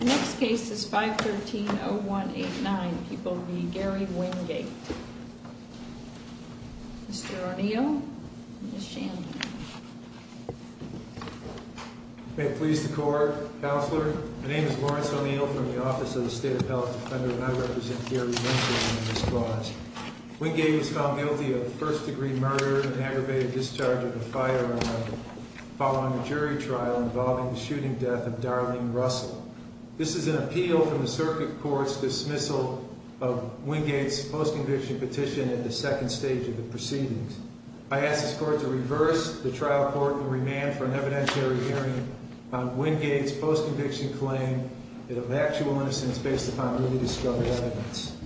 Next case is 513-0189. He will be Gary Wingate. Mr. O'Neill and Ms. Shanley. May it please the court. Counselor, my name is Lawrence O'Neill from the Office of the State of Health Defender and I represent Gary Wingate in this clause. Wingate was found guilty of first-degree murder and aggravated discharge of a firearm following a jury trial involving the shooting death of Darlene Russell. This is an appeal from the circuit court's dismissal of Wingate's post-conviction petition at the second stage of the proceedings. I ask this court to reverse the trial court and remand for an evidentiary hearing on Wingate's post-conviction claim of actual innocence based upon newly discovered evidence.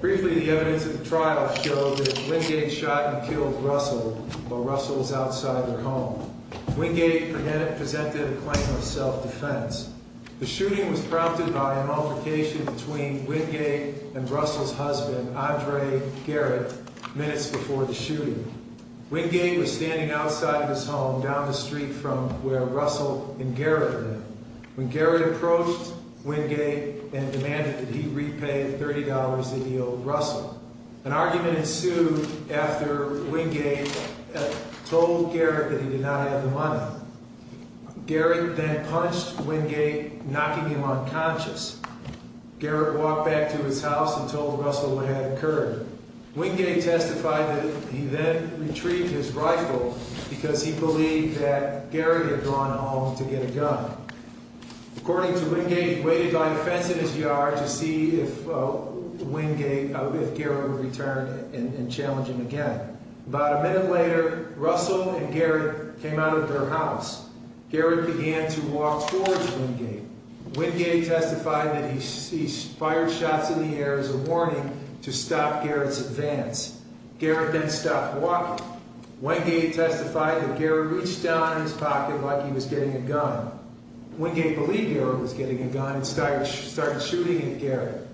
Briefly, the evidence of the trial show that Wingate shot and killed Russell while Russell was outside their home. Wingate presented a claim of self-defense. The shooting was prompted by a multiplication between Wingate and Russell's husband, Andre Garrett, minutes before the shooting. Wingate was standing outside of his home down the street from where Russell and Garrett were. When Garrett approached Wingate and demanded that he repay $30 that he owed Russell, an argument ensued after Wingate told Garrett that he did not have the money. Garrett then punched Wingate, knocking him unconscious. Garrett walked back to his house and told Russell what had occurred. Wingate testified that he then retrieved his rifle because he believed that Garrett had gone home to get a gun. According to Wingate, he waited by a fence in his yard to see if Wingate, if Garrett would return and challenge him again. About a minute later, Russell and Garrett came out of their house. Garrett began to walk towards Wingate. Wingate testified that he fired shots in the air as a warning to stop Garrett's advance. Garrett then stopped walking. Wingate testified that Garrett reached down in his pocket like he was getting a gun and started shooting at Garrett.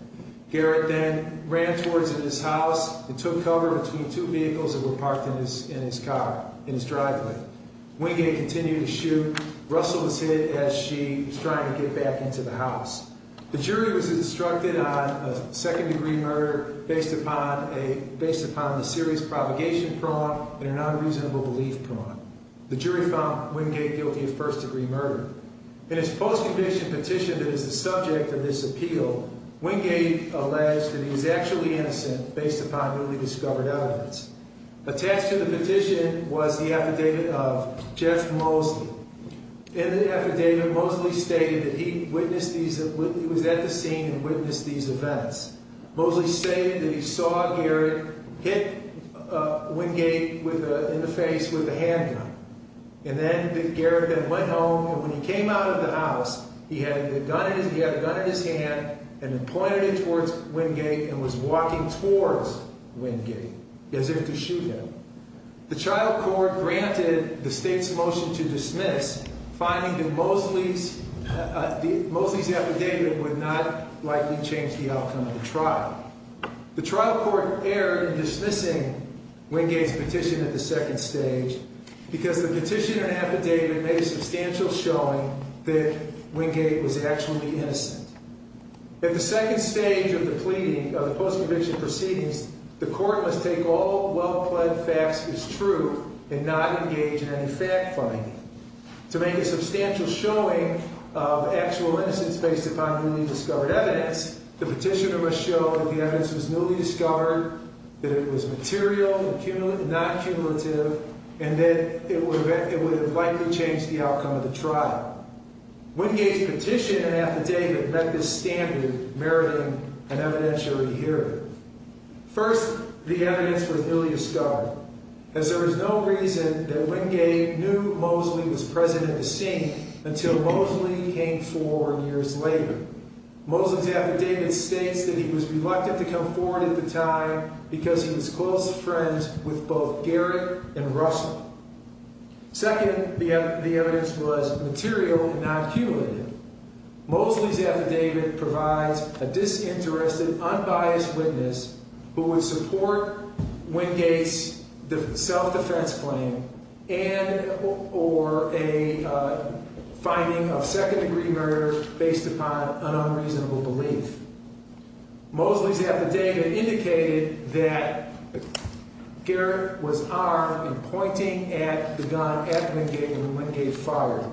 Garrett then ran towards his house and took cover between two vehicles that were parked in his car, in his driveway. Wingate continued to shoot. Russell was hit as she was trying to get back into the house. The jury was instructed on a second-degree murder based upon a, based upon a serious provocation prong and an unreasonable belief prong. The jury found Wingate guilty of first-degree murder. In his post-conviction petition that is the subject of this appeal, Wingate alleged that he was actually innocent based upon newly discovered evidence. Attached to the petition was the affidavit of Jeff Mosley. In the affidavit, Mosley stated that he witnessed these, he was at the scene and witnessed these with a handgun. And then Garrett then went home and when he came out of the house, he had the gun, he had a gun in his hand and then pointed it towards Wingate and was walking towards Wingate as if to shoot him. The trial court granted the state's motion to dismiss, finding that Mosley's, Mosley's affidavit would not likely change the outcome of the trial. The trial court erred in because the petition and affidavit made a substantial showing that Wingate was actually innocent. At the second stage of the pleading, of the post-conviction proceedings, the court must take all well-pled facts as true and not engage in any fact-finding. To make a substantial showing of actual innocence based upon newly discovered evidence, the petitioner must show that the and that it would have likely changed the outcome of the trial. Wingate's petition and affidavit met this standard meriting an evidentiary hearing. First, the evidence was nearly discovered as there was no reason that Wingate knew Mosley was present at the scene until Mosley came forward years later. Mosley's affidavit states that he was reluctant to come forward at the time because he was close friends with both Garrett and Russell. Second, the evidence was material and not cumulative. Mosley's affidavit provides a disinterested, unbiased witness who would support Wingate's self-defense claim and or a finding of second-degree murder based upon an unreasonable belief. Mosley's affidavit indicated that Garrett was armed and pointing at the gun at Wingate when Wingate fired.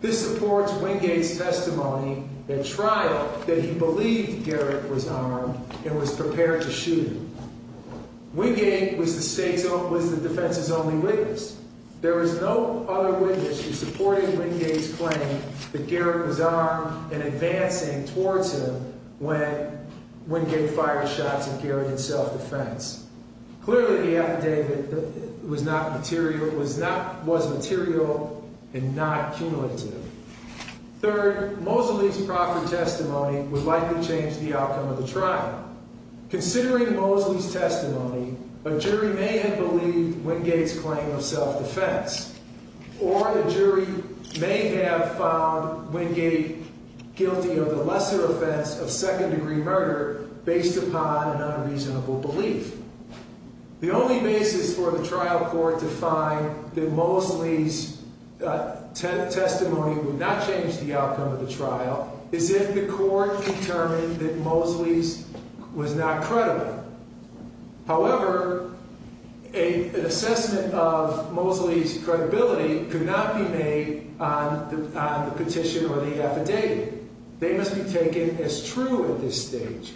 This supports Wingate's testimony at trial that he believed Garrett was armed and was prepared to shoot him. Wingate was the defense's only witness. There was no other when Wingate fired shots at Garrett in self-defense. Clearly, the affidavit was not material, was not, was material and not cumulative. Third, Mosley's proper testimony would likely change the outcome of the trial. Considering Mosley's testimony, a jury may have believed Wingate's claim of second-degree murder based upon an unreasonable belief. The only basis for the trial court to find that Mosley's testimony would not change the outcome of the trial is if the court determined that Mosley's was not credible. However, an assessment of Mosley's credibility could not be on the petition or the affidavit. They must be taken as true at this stage.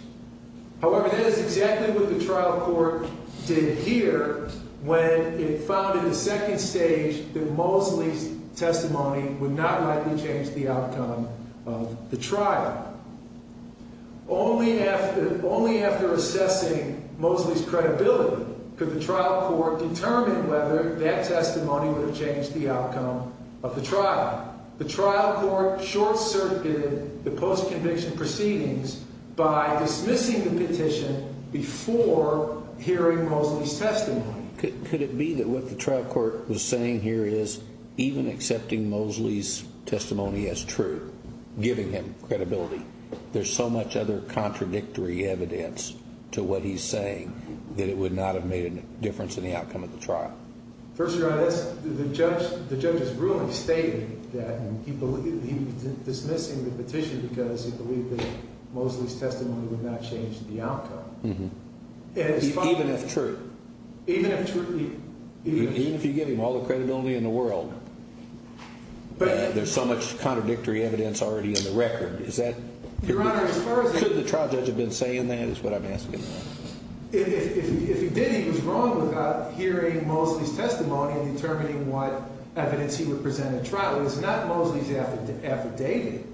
However, that is exactly what the trial court did here when it found in the second stage that Mosley's testimony would not likely change the outcome of the trial. Only after, only after assessing Mosley's credibility could the trial court determine whether that testimony would have changed the outcome of the trial. The trial court short-circuited the post-conviction proceedings by dismissing the petition before hearing Mosley's testimony. Could it be that what the trial court was saying here is even accepting Mosley's testimony as true, giving him credibility, there's so much other contradictory evidence to what he's saying that it would not have made a difference in the trial court's decision? Well, the trial court has really stated that he was dismissing the petition because he believed that Mosley's testimony would not change the outcome. Even if true? Even if true. Even if you give him all the credibility in the world, there's so much contradictory evidence already in the record. Is that... Your Honor, as far as... Could the trial judge have been saying that is what I'm asking. If he did, he was wrong without hearing Mosley's testimony and determining what evidence he would present at trial. It was not Mosley's affidavit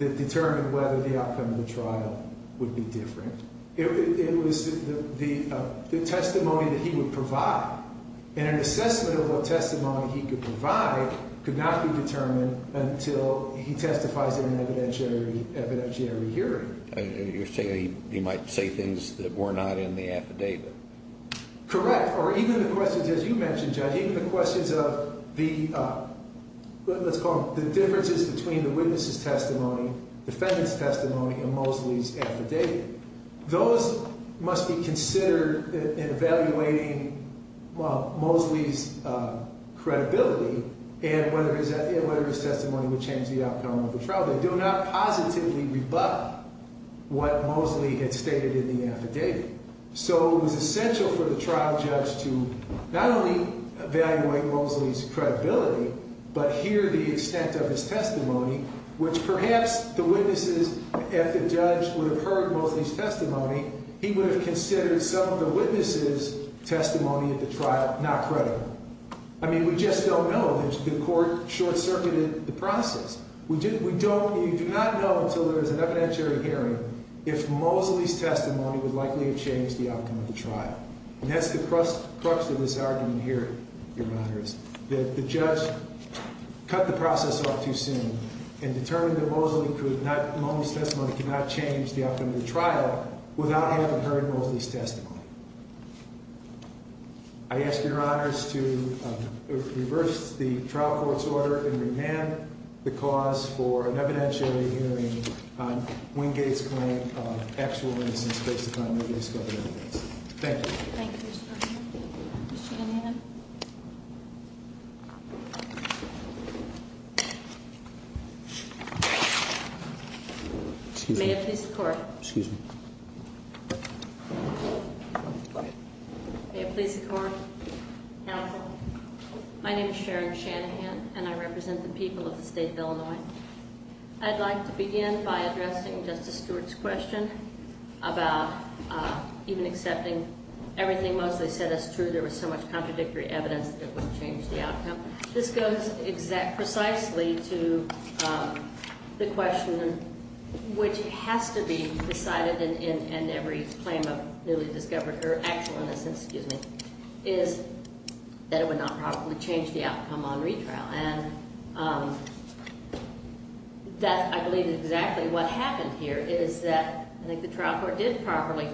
that determined whether the outcome of the trial would be different. It was the testimony that he would provide. And an assessment of what testimony he could provide could not be determined until he testifies in an evidentiary hearing. You're saying he might say things that were not in the affidavit? Correct. Or even the questions, as you mentioned, Judge, even the questions of the... Let's call them the differences between the witness's testimony, defendant's testimony, and Mosley's affidavit. Those must be considered in evaluating Mosley's credibility and whether his testimony would change the outcome of the trial. They do not positively rebut what Mosley had stated in the affidavit. It is essential for the trial judge to not only evaluate Mosley's credibility, but hear the extent of his testimony, which perhaps the witnesses, if the judge would have heard Mosley's testimony, he would have considered some of the witness's testimony at the trial not credible. I mean, we just don't know. The court short-circuited the process. We do not know until there is an evidentiary hearing if Mosley's testimony would likely have changed the outcome of the trial. And that's the crux of this argument here, Your Honors, that the judge cut the process off too soon and determined that Mosley's testimony could not change the outcome of the trial without having heard Mosley's testimony. I ask Your Honors to reverse the trial court's order and remand the cause for an evidentiary hearing on Wingate's claim of actual innocence based upon Wingate's government evidence. Thank you. Thank you, Your Honor. Ms. Shanahan. May it please the Court. Excuse me. Go ahead. May it please the Court. My name is Sharon Shanahan, and I represent the people of the state of Illinois. I'd like to begin by addressing Justice Stewart's question about even accepting everything Mosley said as true, there was so much contradictory evidence that it wouldn't change the outcome. This goes precisely to the question which has to be decided in every claim of newly discovered or actual innocence, excuse me, is that it would not properly change the outcome on retrial. And that, I believe, is exactly what happened here. It is that I think the trial court did properly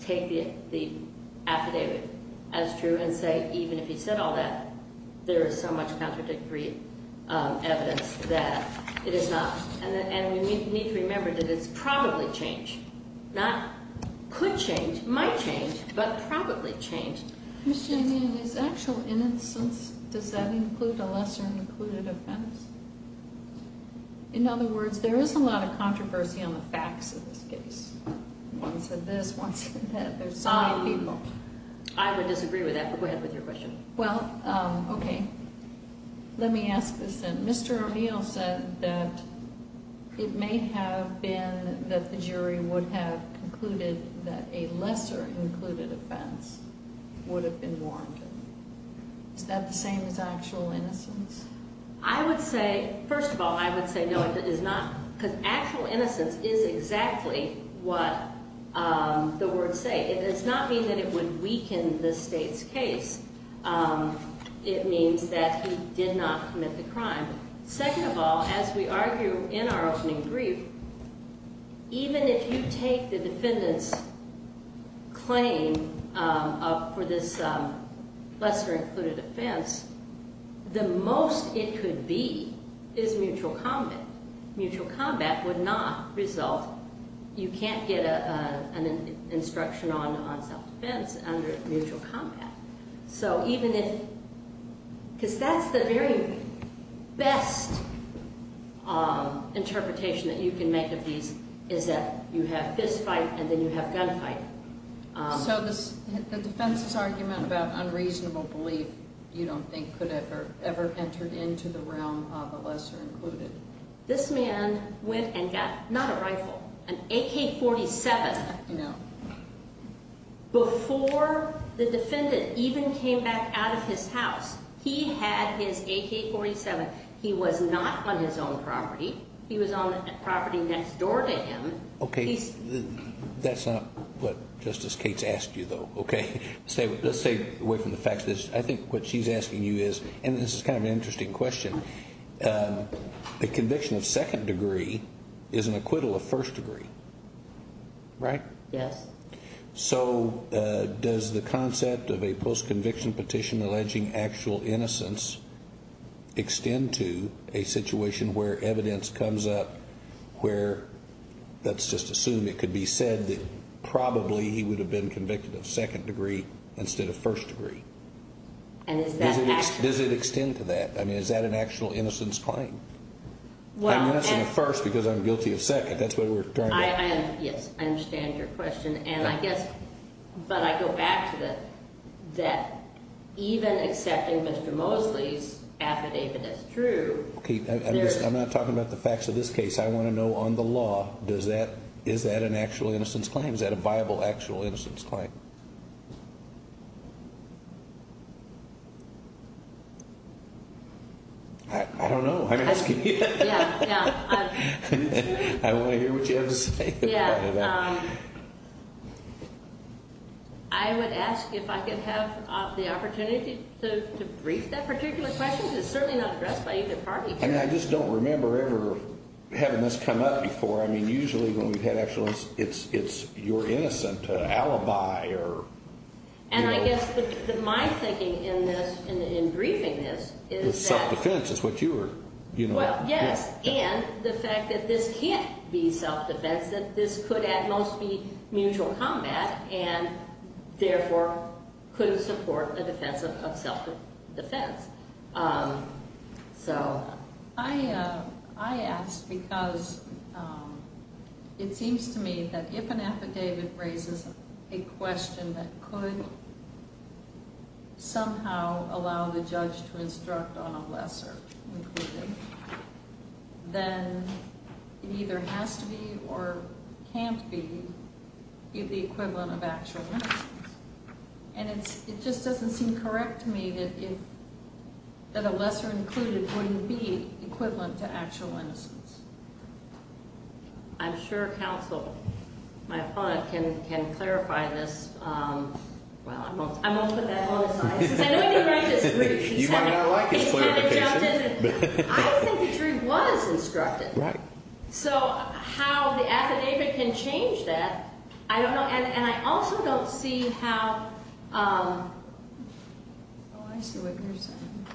take the affidavit as true and say, even if he said all that, there is so much contradictory evidence that it is not. And we need to remember that it's probably changed, not could change, might change, but probably changed. Ms. Shanahan, is actual innocence, does that include a lesser included offense? In other words, there is a lot of controversy on the facts of this case. One said this, one said that, there's so many people. I would disagree with that, but go ahead with your question. Well, okay. Let me ask this then. Mr. O'Neill said that it may have been that the jury would have concluded that a lesser included offense would have been warranted. Is that the same as actual innocence? I would say, first of all, I would say no, it is not. Because actual innocence is exactly what the words say. It does not mean that it would weaken the state's case. It means that he did not commit the crime. Second of all, as we argue in our opening brief, even if you take the defendant's claim for this lesser included offense, the most it could be is mutual combat. Mutual combat would not result. You can't get an instruction on self-defense under mutual combat. So even if, because that's the very best interpretation that you can make of these is that you have fist fight and then you have gun fight. So the defense's argument about unreasonable belief you don't think could have ever entered into the realm of a lesser included. This man went and got, not a rifle, an AK-47, you know, before the defendant even came back out of his house. He had his AK-47. He was not on his own property. He was on the property next door to him. Okay. That's not what Justice Cates asked you, though, okay? Let's stay away from the facts. I think what she's asking you is, and this is kind of an interesting question. A conviction of second degree is an acquittal of first degree, right? Yes. So does the concept of a post-conviction petition alleging actual innocence extend to a situation where evidence comes up where, let's just assume it could be said that probably he would have been convicted of second degree instead of first degree? Does it extend to that? I mean, is that an actual innocence claim? I'm innocent of first because I'm guilty of second. That's what we're talking about. Yes, I understand your question. And I guess, but I go back to that even accepting Mr. Mosley's affidavit as true. Kate, I'm not talking about the facts of this case. I want to know on the law, is that an actual innocence claim? Is that a viable actual innocence claim? I don't know. I'm asking you. I want to hear what you have to say about it. I would ask if I could have the opportunity to brief that particular question. It's certainly not addressed by either party. I mean, I just don't remember ever having this come up before. I mean, usually when we've had actual, it's your innocent alibi. And I guess my thinking in this, in briefing this, is that. It's self-defense. It's what you were, you know. Well, yes, and the fact that this can't be self-defense, that this could at most be mutual combat and therefore couldn't support a defense of self-defense. So. I asked because it seems to me that if an affidavit raises a question that could somehow allow the judge to instruct on a lesser included, then it either has to be or can't be the equivalent of actual innocence. And it just doesn't seem correct to me that a lesser included wouldn't be equivalent to actual innocence. I'm sure counsel, my opponent, can clarify this. Well, I won't put that on the side. Because I know I didn't write this brief. You might not like this clarification. It kind of jumped in. I think the jury was instructed. Right. So how the affidavit can change that, I don't know. And I also don't see how. Oh, I see what you're saying.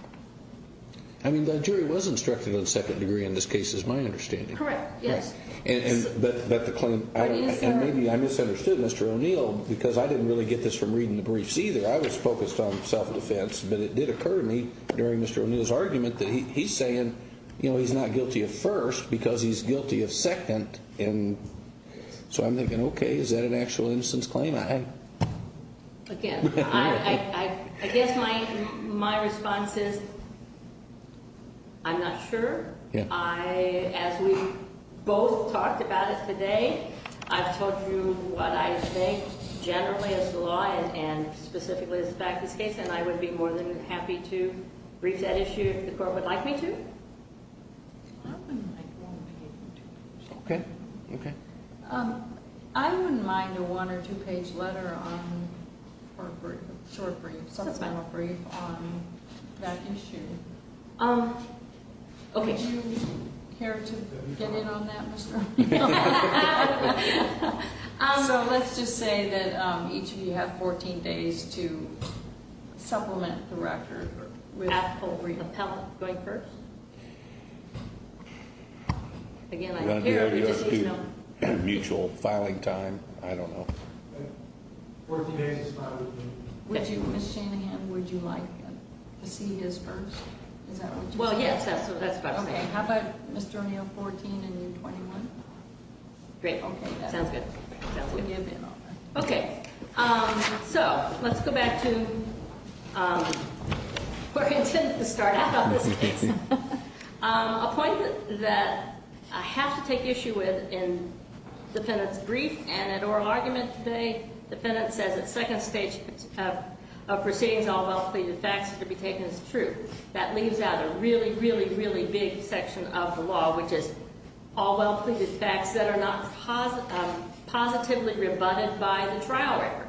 I mean, the jury was instructed on second degree in this case is my understanding. Correct. Yes. But the claim, and maybe I misunderstood Mr. O'Neill because I didn't really get this from reading the briefs either. I was focused on self-defense, but it did occur to me during Mr. O'Neill's argument that he's saying, you know, he's not guilty of first because he's guilty of second. So I'm thinking, okay, is that an actual innocence claim? Again, I guess my response is I'm not sure. As we both talked about it today, I've told you what I think generally as the law and specifically as a practice case, and I would be more than happy to brief that issue if the court would like me to. Okay. I wouldn't mind a one- or two-page letter on, or a short brief, subsequent brief on that issue. Okay. Would you care to get in on that, Mr. O'Neill? So let's just say that each of you have 14 days to supplement the record. Appropriate. Appellate. Going first? Again, I'd care to just let you know. Mutual filing time. I don't know. 14 days is fine with me. Would you, Ms. Shanahan, would you like to see his first? Is that what you said? Well, yes, that's what I said. Okay. How about Mr. O'Neill, 14, and you, 21? Great. Okay. Sounds good. Sounds good. Okay. So let's go back to where we intended to start out on this case. A point that I have to take issue with in the defendant's brief and in oral argument today, the defendant says at second stage of proceedings all well-pleaded facts should be taken as true. That leaves out a really, really, really big section of the law, which is all well-pleaded facts that are not positively rebutted by the trial record.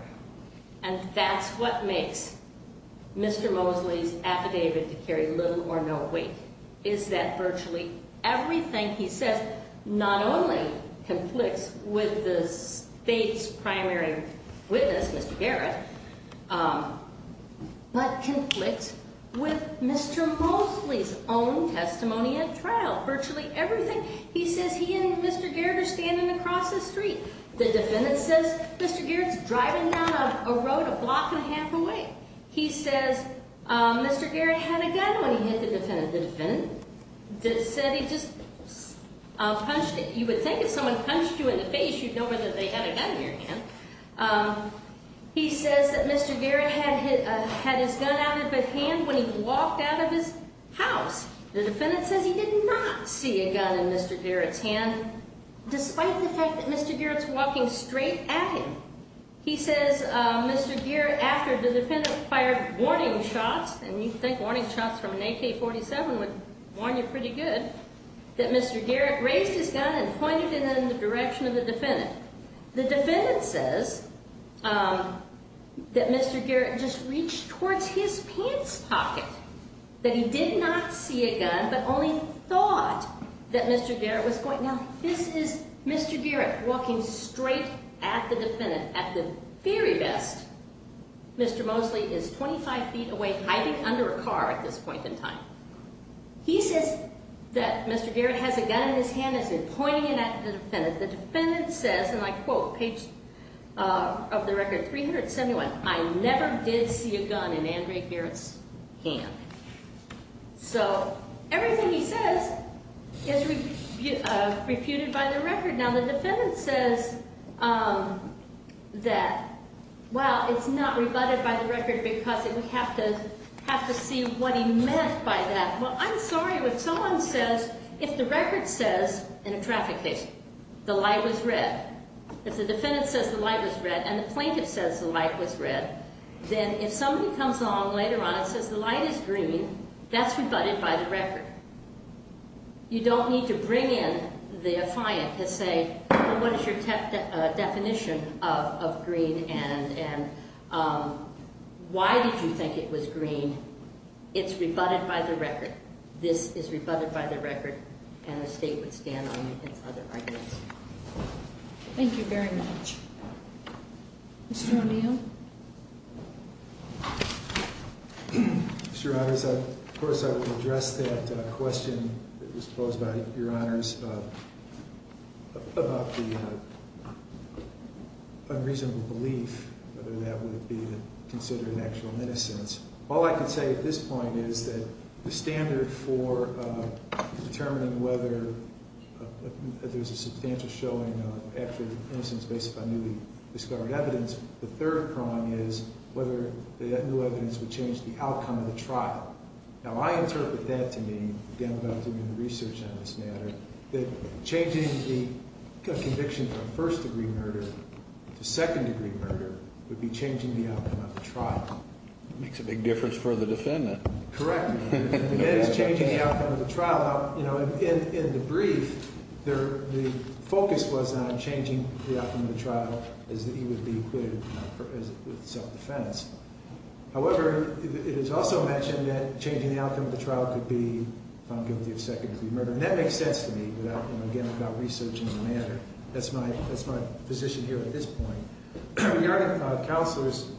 And that's what makes Mr. Mosley's affidavit to carry little or no weight, is that virtually everything he says not only conflicts with the State's primary witness, Mr. Garrett, but conflicts with Mr. Mosley's own testimony at trial, virtually everything. He says he and Mr. Garrett are standing across the street. The defendant says Mr. Garrett's driving down a road a block and a half away. He says Mr. Garrett had a gun when he hit the defendant. The defendant said he just punched it. You would think if someone punched you in the face you'd know whether they had a gun in their hand. He says that Mr. Garrett had his gun out of his hand when he walked out of his house. The defendant says he did not see a gun in Mr. Garrett's hand, despite the fact that Mr. Garrett's walking straight at him. He says Mr. Garrett, after the defendant fired warning shots, and you'd think warning shots from an AK-47 would warn you pretty good, that Mr. Garrett raised his gun and pointed it in the direction of the defendant. The defendant says that Mr. Garrett just reached towards his pants pocket, that he did not see a gun but only thought that Mr. Garrett was pointing it. Now this is Mr. Garrett walking straight at the defendant. At the very best, Mr. Mosley is 25 feet away hiding under a car at this point in time. He says that Mr. Garrett has a gun in his hand and has been pointing it at the defendant. The defendant says, and I quote, page of the record 371, I never did see a gun in Andre Garrett's hand. So everything he says is refuted by the record. Now the defendant says that, well, it's not rebutted by the record because we have to see what he meant by that. Well, I'm sorry, if someone says, if the record says in a traffic case the light was red, if the defendant says the light was red and the plaintiff says the light was red, then if somebody comes along later on and says the light is green, that's rebutted by the record. You don't need to bring in the defiant to say, well, what is your definition of green and why did you think it was green? It's rebutted by the record. This is rebutted by the record, and the state would stand on its other arguments. Thank you very much. Mr. O'Neill. Mr. Honors, of course I would address that question that was posed by your honors about the unreasonable belief, whether that would be considered actual innocence. All I can say at this point is that the standard for determining whether there's a substantial showing of actual innocence based on newly discovered evidence, the third prong is whether that new evidence would change the outcome of the trial. Now, I interpret that to mean, again, about doing the research on this matter, that changing the conviction from first-degree murder to second-degree murder would be changing the outcome of the trial. It makes a big difference for the defendant. Correct. Again, it's changing the outcome of the trial. In the brief, the focus was on changing the outcome of the trial as it would be equated with self-defense. However, it is also mentioned that changing the outcome of the trial could be found guilty of second-degree murder, and that makes sense to me, again, about researching the matter. That's my position here at this point. Your Honor, Counselor's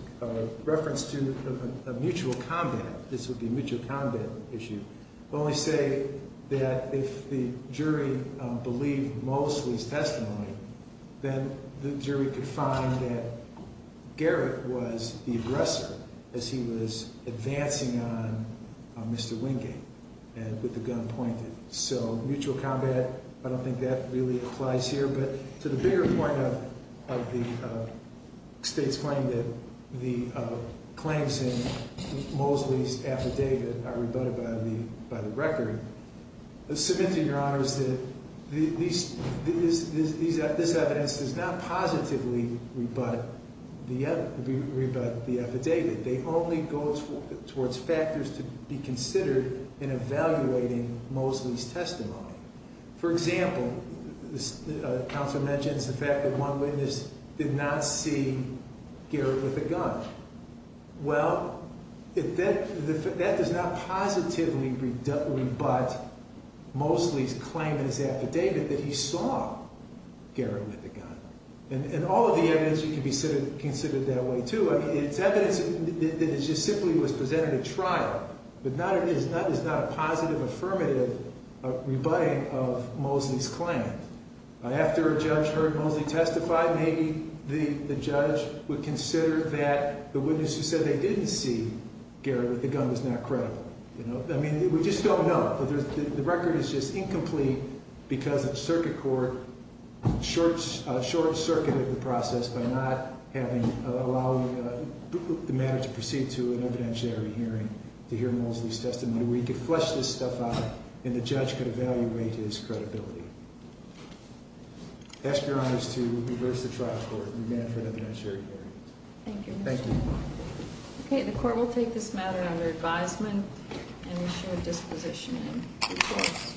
reference to a mutual combat, this would be a mutual combat issue, will only say that if the jury believed Mosley's testimony, then the jury could find that Garrett was the aggressor as he was advancing on Mr. Wingate with the gun pointed. So mutual combat, I don't think that really applies here. But to the bigger point of the state's claim that the claims in Mosley's affidavit are rebutted by the record, I submit to Your Honors that this evidence does not positively rebut the affidavit. They only go towards factors to be considered in evaluating Mosley's testimony. For example, Counselor mentions the fact that one witness did not see Garrett with a gun. Well, that does not positively rebut Mosley's claim in his affidavit that he saw Garrett with a gun. And all of the evidence can be considered that way, too. It's evidence that simply was presented at trial, but that is not a positive affirmative rebutting of Mosley's claim. After a judge heard Mosley testify, maybe the judge would consider that the witness who said they didn't see Garrett with the gun was not credible. I mean, we just don't know. The record is just incomplete because the circuit court short-circuited the process by not allowing the matter to proceed to an evidentiary hearing to hear Mosley's testimony. We could flesh this stuff out and the judge could evaluate his credibility. I ask Your Honors to reverse the trial court and amend it for an evidentiary hearing. Thank you. Thank you. Okay, the court will take this matter under advisement and issue a disposition in due course.